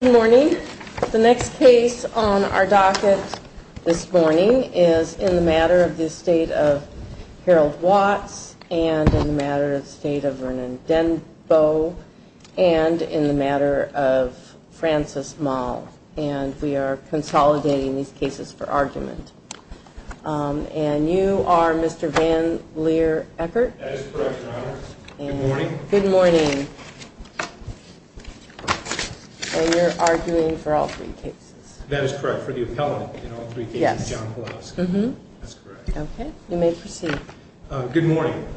Good morning. The next case on our docket this morning is in the matter of the estate of Harold Watts, and in the matter of the estate of Vernon Denbo, and in the matter of Francis Moll. And we are consolidating these cases for argument. And you are Mr. Van Leer Eckert? That is correct, Your Honor. Good morning. Good morning. And you're arguing for all three cases? That is correct, for the appellate in all three cases, John Pulaski. That's correct. Okay, you may proceed. Good morning.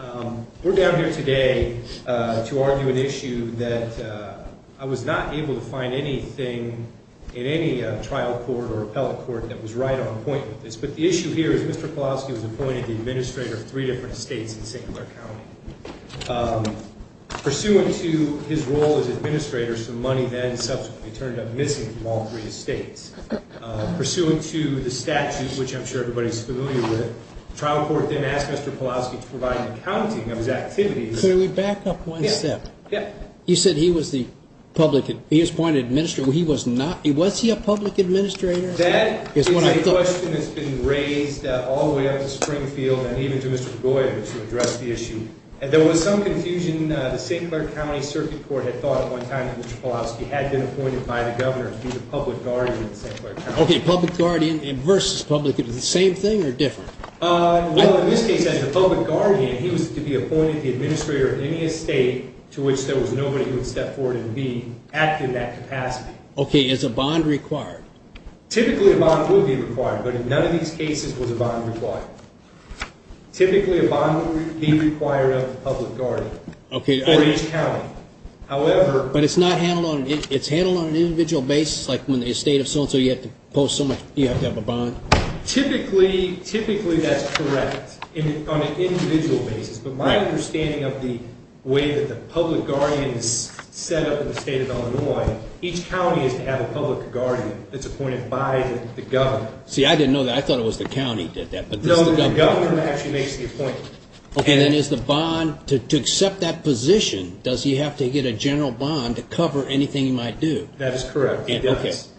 We're down here today to argue an issue that I was not able to find anything in any trial court or appellate court that was right on point with this. But the issue here is Mr. Pulaski was appointed the administrator of three different estates in St. Clair County. Pursuant to his role as administrator, some money then subsequently turned up missing from all three estates. Pursuant to the statute, which I'm sure everybody's familiar with, the trial court then asked Mr. Pulaski to provide an accounting of his activities. Could we back up one step? Yeah. You said he was the public – he was appointed administrator. He was not – was he a public administrator? That is a question that's been raised all the way up to Springfield and even to Mr. McGoy to address the issue. There was some confusion. The St. Clair County Circuit Court had thought at one time that Mr. Pulaski had been appointed by the governor to be the public guardian of St. Clair County. Okay, public guardian versus public. Is it the same thing or different? Well, in this case, as the public guardian, he was to be appointed the administrator of any estate to which there was nobody who would step forward and be active in that capacity. Okay, is a bond required? Typically, a bond would be required, but in none of these cases was a bond required. Typically, a bond would be required of the public guardian for each county. However – But it's not handled on – it's handled on an individual basis? Like when the estate of so-and-so, you have to post so much – you have to have a bond? Typically, typically that's correct on an individual basis. But my understanding of the way that the public guardian is set up in the state of Illinois, each county is to have a public guardian that's appointed by the governor. See, I didn't know that. I thought it was the county that did that. No, the governor actually makes the appointment. Okay, then is the bond – to accept that position, does he have to get a general bond to cover anything he might do? That is correct, he does.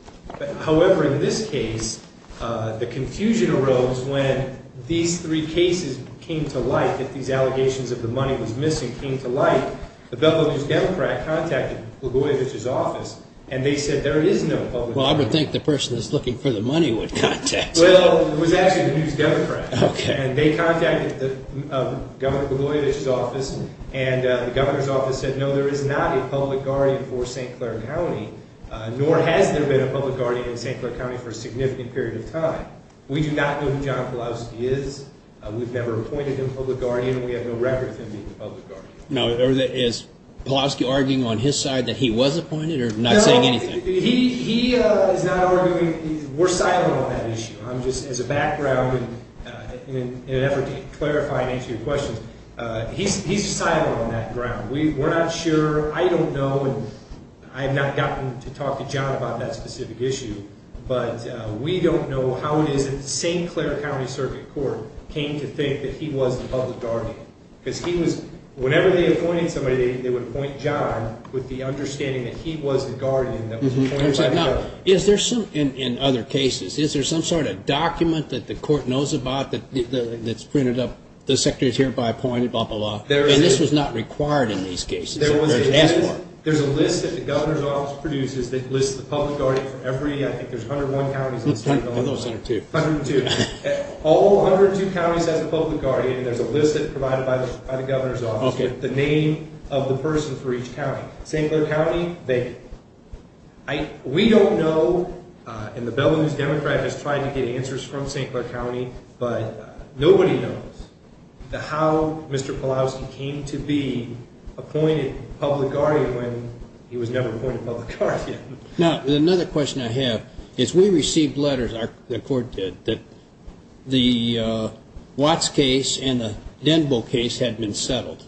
However, in this case, the confusion arose when these three cases came to light, that these allegations of the money was missing, came to light. The Buffalo News Democrat contacted Blagojevich's office, and they said there is no public guardian. Well, I would think the person that's looking for the money would contact him. Well, it was actually the News Democrat, and they contacted Governor Blagojevich's office, and the governor's office said, no, there is not a public guardian for St. Clair County, nor has there been a public guardian in St. Clair County for a significant period of time. We do not know who John Pulaski is. We've never appointed him public guardian, and we have no record of him being a public guardian. Now, is Pulaski arguing on his side that he was appointed, or not saying anything? No, he is not arguing – we're silent on that issue. I'm just – as a background, in an effort to clarify and answer your questions, he's silent on that ground. We're not sure – I don't know, and I have not gotten to talk to John about that specific issue, but we don't know how it is that the St. Clair County Circuit Court came to think that he was the public guardian, because he was – whenever they appointed somebody, they would appoint John with the understanding that he was the guardian that was appointed by the governor. Now, is there some – in other cases, is there some sort of document that the court knows about that's printed up, the secretary is hereby appointed, blah, blah, blah, and this was not required in these cases? There's a list that the governor's office produces that lists the public guardian for every – I think there's 101 counties. There's 102. 102. All 102 counties have a public guardian, and there's a list provided by the governor's office with the name of the person for each county. St. Clair County, they – we don't know, and the Belarus Democrat has tried to get answers from St. Clair County, but nobody knows how Mr. Pawlowski came to be appointed public guardian when he was never appointed public guardian. Now, another question I have is we received letters, the court did, that the Watts case and the Denbo case had been settled.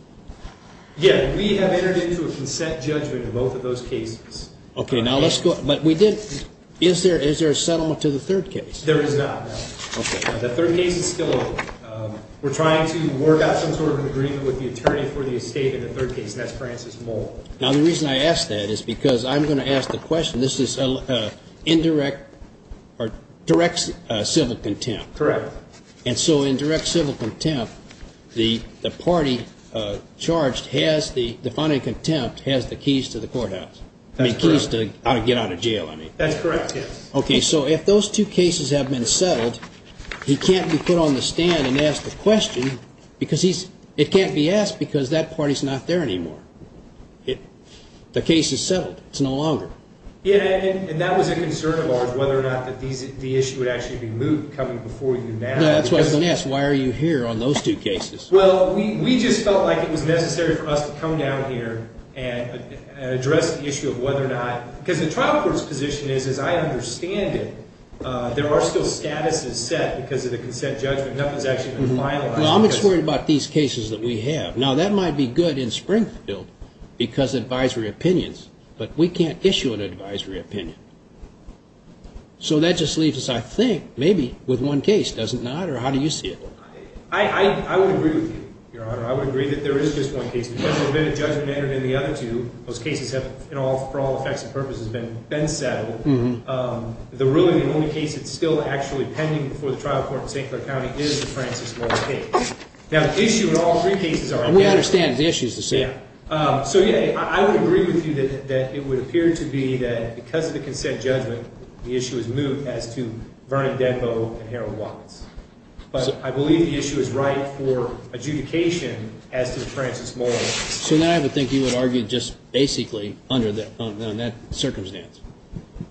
Yeah, we have entered into a consent judgment in both of those cases. Okay, now let's go – but we did – is there a settlement to the third case? There is not, no. Okay. The third case is still open. We're trying to work out some sort of agreement with the attorney for the estate in the third case, and that's Francis Moll. Now, the reason I ask that is because I'm going to ask the question. This is indirect or direct civil contempt. Correct. And so in direct civil contempt, the party charged has the – the finding of contempt has the keys to the courthouse. That's correct. I mean, keys to how to get out of jail, I mean. That's correct, yes. Okay, so if those two cases have been settled, he can't be put on the stand and asked a question because he's – it can't be asked because that party's not there anymore. The case is settled. It's no longer. Yeah, and that was a concern of ours, whether or not the issue would actually be moved coming before you now. No, that's what I was going to ask. Why are you here on those two cases? Well, we just felt like it was necessary for us to come down here and address the issue of whether or not – because the trial court's position is, as I understand it, there are still statuses set because of the consent judgment. Nothing's actually been finalized. Well, I'm just worried about these cases that we have. Now, that might be good in Springfield because advisory opinions, but we can't issue an advisory opinion. So that just leaves us, I think, maybe with one case, does it not? Or how do you see it? I would agree with you, Your Honor. I would agree that there is just one case. Those cases have, for all effects and purposes, been settled. Really, the only case that's still actually pending before the trial court in St. Clair County is the Francis Muller case. Now, the issue in all three cases are – We understand the issue is the same. So, yeah, I would agree with you that it would appear to be that because of the consent judgment, the issue is moved as to Vernon Denbo and Harold Watkins. But I believe the issue is right for adjudication as to Francis Muller. So now I would think you would argue just basically under that circumstance.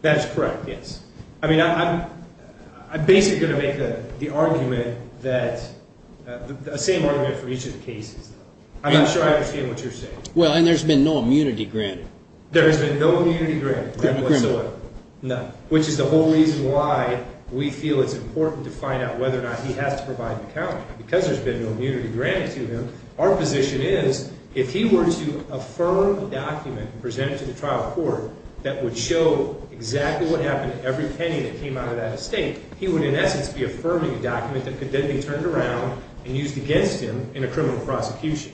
That's correct, yes. I mean, I'm basically going to make the argument that – the same argument for each of the cases. I'm not sure I understand what you're saying. Well, and there's been no immunity granted. There has been no immunity granted whatsoever. No. Which is the whole reason why we feel it's important to find out whether or not he has to provide an account. Because there's been no immunity granted to him, our position is if he were to affirm a document presented to the trial court that would show exactly what happened to every penny that came out of that estate, he would, in essence, be affirming a document that could then be turned around and used against him in a criminal prosecution.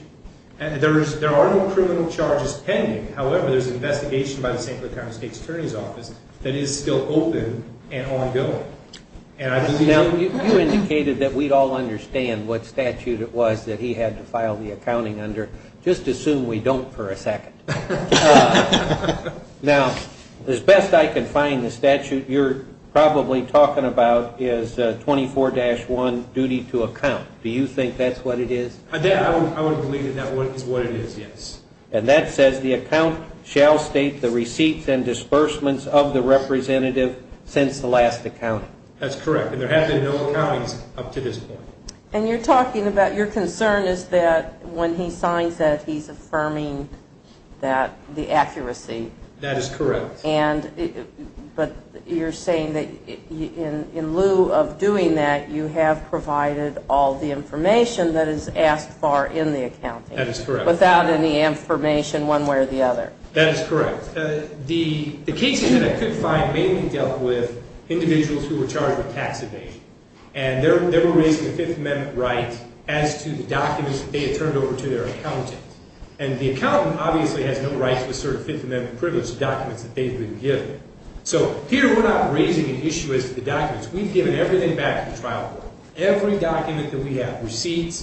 There are no criminal charges pending. However, there's an investigation by the St. Clair County State's Attorney's Office that is still open and ongoing. Now, you indicated that we'd all understand what statute it was that he had to file the accounting under. Just assume we don't for a second. Now, as best I can find the statute you're probably talking about is 24-1, duty to account. Do you think that's what it is? I would believe that that is what it is, yes. And that says the account shall state the receipts and disbursements of the representative since the last accounting. That's correct. And there have been no accountings up to this point. And you're talking about your concern is that when he signs that, he's affirming the accuracy. That is correct. But you're saying that in lieu of doing that, you have provided all the information that is asked for in the accounting. That is correct. Without any information one way or the other. That is correct. The cases that I could find mainly dealt with individuals who were charged with tax evasion. And they were raising a Fifth Amendment right as to the documents that they had turned over to their accountant. And the accountant obviously has no rights to assert a Fifth Amendment privilege to documents that they've been given. So here we're not raising an issue as to the documents. We've given everything back to the trial court. Every document that we have, receipts,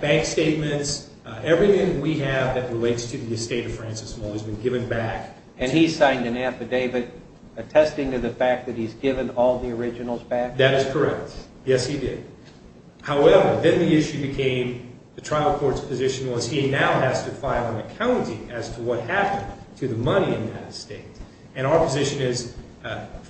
bank statements, everything we have that relates to the estate of Francis Muller has been given back. And he signed an affidavit attesting to the fact that he's given all the originals back? That is correct. Yes, he did. However, then the issue became the trial court's position was he now has to file an accounting as to what happened to the money in that estate. And our position is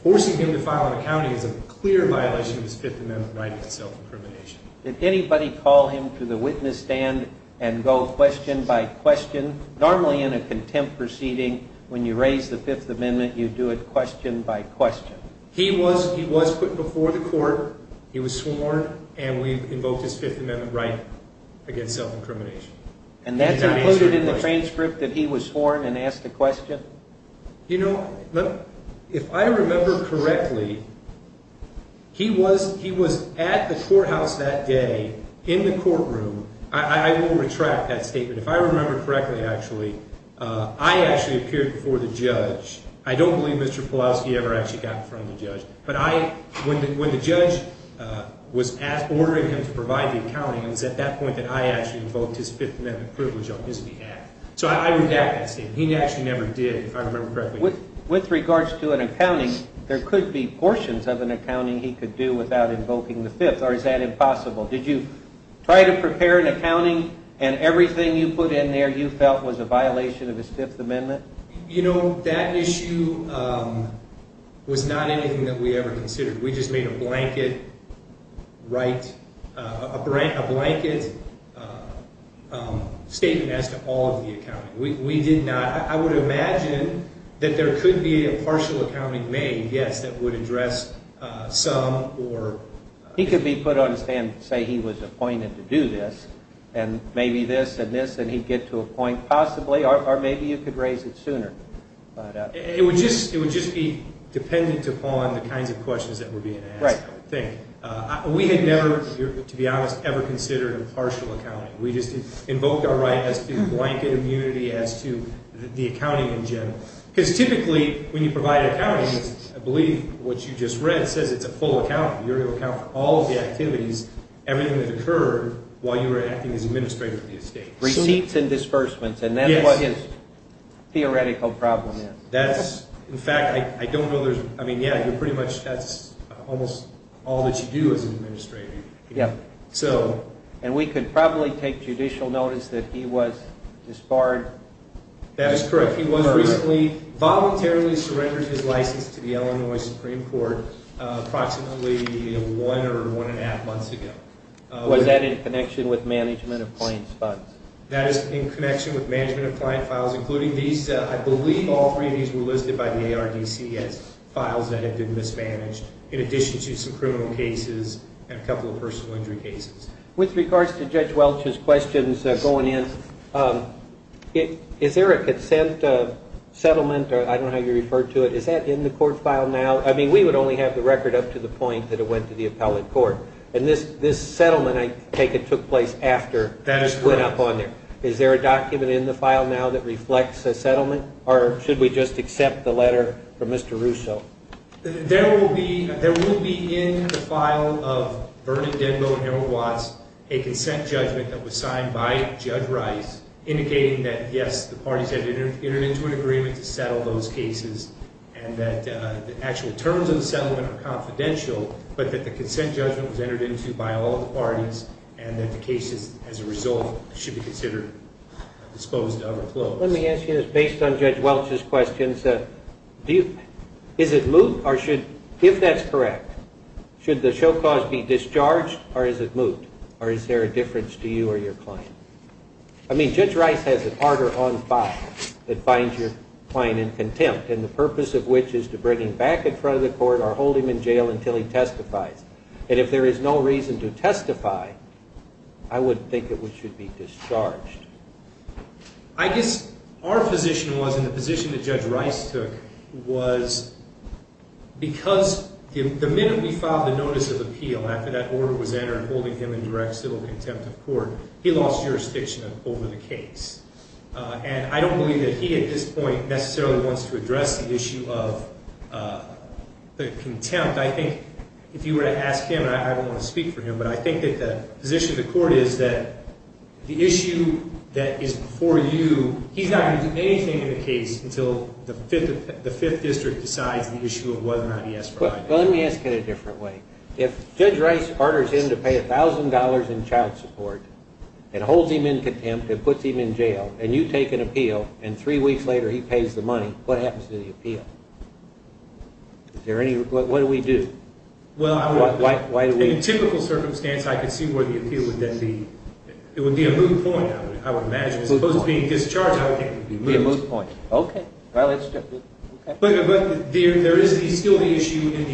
forcing him to file an accounting is a clear violation of his Fifth Amendment right against self-incrimination. Did anybody call him to the witness stand and go question by question? Normally in a contempt proceeding when you raise the Fifth Amendment you do it question by question. He was put before the court. He was sworn. And we invoked his Fifth Amendment right against self-incrimination. And that's included in the transcript that he was sworn and asked a question? You know, if I remember correctly, he was at the courthouse that day in the courtroom. I will retract that statement. If I remember correctly, actually, I actually appeared before the judge. I don't believe Mr. Pulaski ever actually got in front of the judge. But when the judge was ordering him to provide the accounting, it was at that point that I actually invoked his Fifth Amendment privilege on his behalf. So I redact that statement. He actually never did, if I remember correctly. With regards to an accounting, there could be portions of an accounting he could do without invoking the Fifth. Or is that impossible? Did you try to prepare an accounting and everything you put in there you felt was a violation of his Fifth Amendment? You know, that issue was not anything that we ever considered. We just made a blanket statement as to all of the accounting. I would imagine that there could be a partial accounting made, yes, that would address some. He could be put on a stand and say he was appointed to do this, and maybe this and this, and he'd get to a point possibly. Or maybe you could raise it sooner. It would just be dependent upon the kinds of questions that were being asked, I think. We had never, to be honest, ever considered a partial accounting. We just invoked our right as to blanket immunity as to the accounting in general. Because typically when you provide accounting, I believe what you just read says it's a full account. You're going to account for all of the activities, everything that occurred while you were acting as administrator of the estate. Receipts and disbursements, and that's what his theoretical problem is. That's, in fact, I don't know there's, I mean, yeah, you're pretty much, that's almost all that you do as an administrator. And we could probably take judicial notice that he was disbarred. That is correct. He was recently voluntarily surrendered his license to the Illinois Supreme Court approximately one or one-and-a-half months ago. Was that in connection with management of clients' funds? That is in connection with management of client files, including these. I believe all three of these were listed by the ARDC as files that had been mismanaged, in addition to some criminal cases and a couple of personal injury cases. With regards to Judge Welch's questions going in, is there a consent settlement? I don't know how you refer to it. Is that in the court file now? I mean, we would only have the record up to the point that it went to the appellate court. And this settlement, I take it, took place after it went up on there. That is correct. Is there a document in the file now that reflects a settlement, or should we just accept the letter from Mr. Russo? There will be in the file of Vernon, Denbo, and Erwin Watts a consent judgment that was signed by Judge Rice, indicating that, yes, the parties had entered into an agreement to settle those cases and that the actual terms of the settlement are confidential, but that the consent judgment was entered into by all of the parties and that the cases, as a result, should be considered disposed of or closed. Let me ask you this. With regard to Judge Welch's questions, is it moot, or should, if that's correct, should the show cause be discharged, or is it moot, or is there a difference to you or your client? I mean, Judge Rice has an order on file that finds your client in contempt, and the purpose of which is to bring him back in front of the court or hold him in jail until he testifies. And if there is no reason to testify, I would think that we should be discharged. I guess our position was, and the position that Judge Rice took, was because the minute we filed the notice of appeal after that order was entered holding him in direct civil contempt of court, he lost jurisdiction over the case. And I don't believe that he, at this point, necessarily wants to address the issue of the contempt. I think if you were to ask him, and I don't want to speak for him, but I think that the position of the court is that the issue that is before you, he's not going to do anything in the case until the Fifth District decides the issue of whether or not he has to testify. Well, let me ask it a different way. If Judge Rice orders him to pay $1,000 in child support and holds him in contempt and puts him in jail, and you take an appeal, and three weeks later he pays the money, what happens to the appeal? What do we do? Well, in a typical circumstance, I could see where the appeal would then be. It would be a moot point, I would imagine. As opposed to being discharged, I would think it would be a moot point. Okay. But there is still the issue in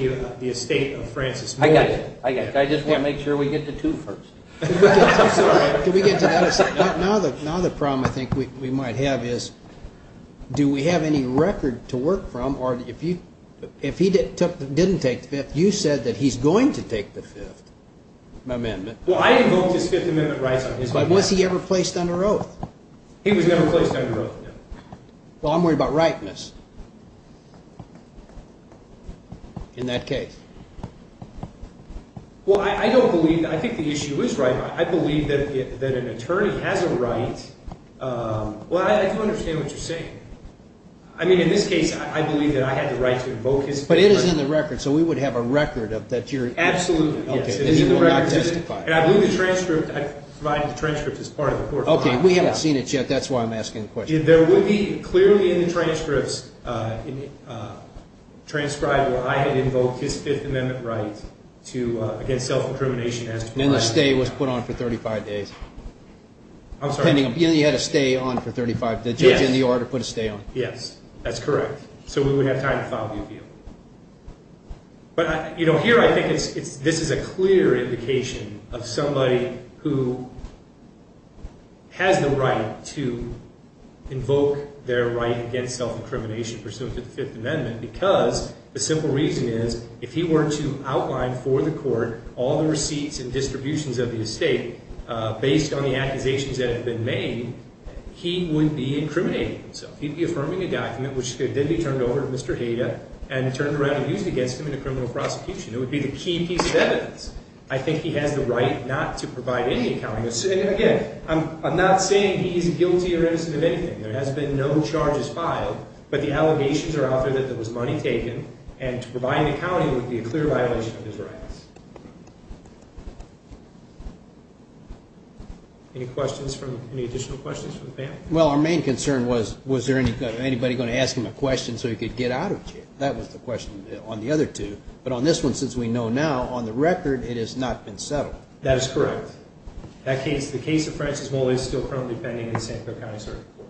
the estate of Francis Moore. I got it. I just want to make sure we get to two first. Can we get to that? Now the problem I think we might have is do we have any record to work from? If he didn't take the Fifth, you said that he's going to take the Fifth Amendment. Well, I invoked his Fifth Amendment rights on his behalf. But was he ever placed under oath? He was never placed under oath, no. Well, I'm worried about rightness in that case. Well, I don't believe that. I think the issue is right. I believe that an attorney has a right. Well, I do understand what you're saying. I mean, in this case, I believe that I had the right to invoke his Fifth Amendment. But it is in the record. So we would have a record that you're – Absolutely, yes. And you will not testify. And I believe the transcript. I provided the transcript as part of the court file. Okay. We haven't seen it yet. That's why I'm asking the question. There would be clearly in the transcripts transcribed where I had invoked his Fifth Amendment rights against self-incrimination. And the stay was put on for 35 days. I'm sorry? You had a stay on for 35 days. The judge in the order put a stay on. Yes. That's correct. So we would have time to file the appeal. But, you know, here I think this is a clear indication of somebody who has the right to invoke their right against self-incrimination pursuant to the Fifth Amendment because the simple reason is if he were to outline for the court all the receipts and distributions of the estate based on the accusations that have been made, he would be incriminating himself. He'd be affirming a document which could then be turned over to Mr. Hayda and turned around and used against him in a criminal prosecution. It would be the key piece of evidence. I think he has the right not to provide any accounting. Again, I'm not saying he's guilty or innocent of anything. There has been no charges filed. But the allegations are out there that there was money taken, and to provide an accounting would be a clear violation of his rights. Any questions from the panel? Well, our main concern was, was there anybody going to ask him a question so he could get out of jail? That was the question on the other two. But on this one, since we know now, on the record, it has not been settled. That is correct. The case of Francis Moll is still currently pending in the Sanford County Circuit Court.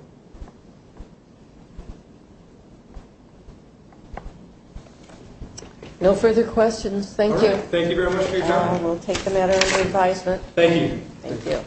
No further questions. Thank you. Thank you very much for your time. And we'll take the matter under advisement. Thank you. Thank you.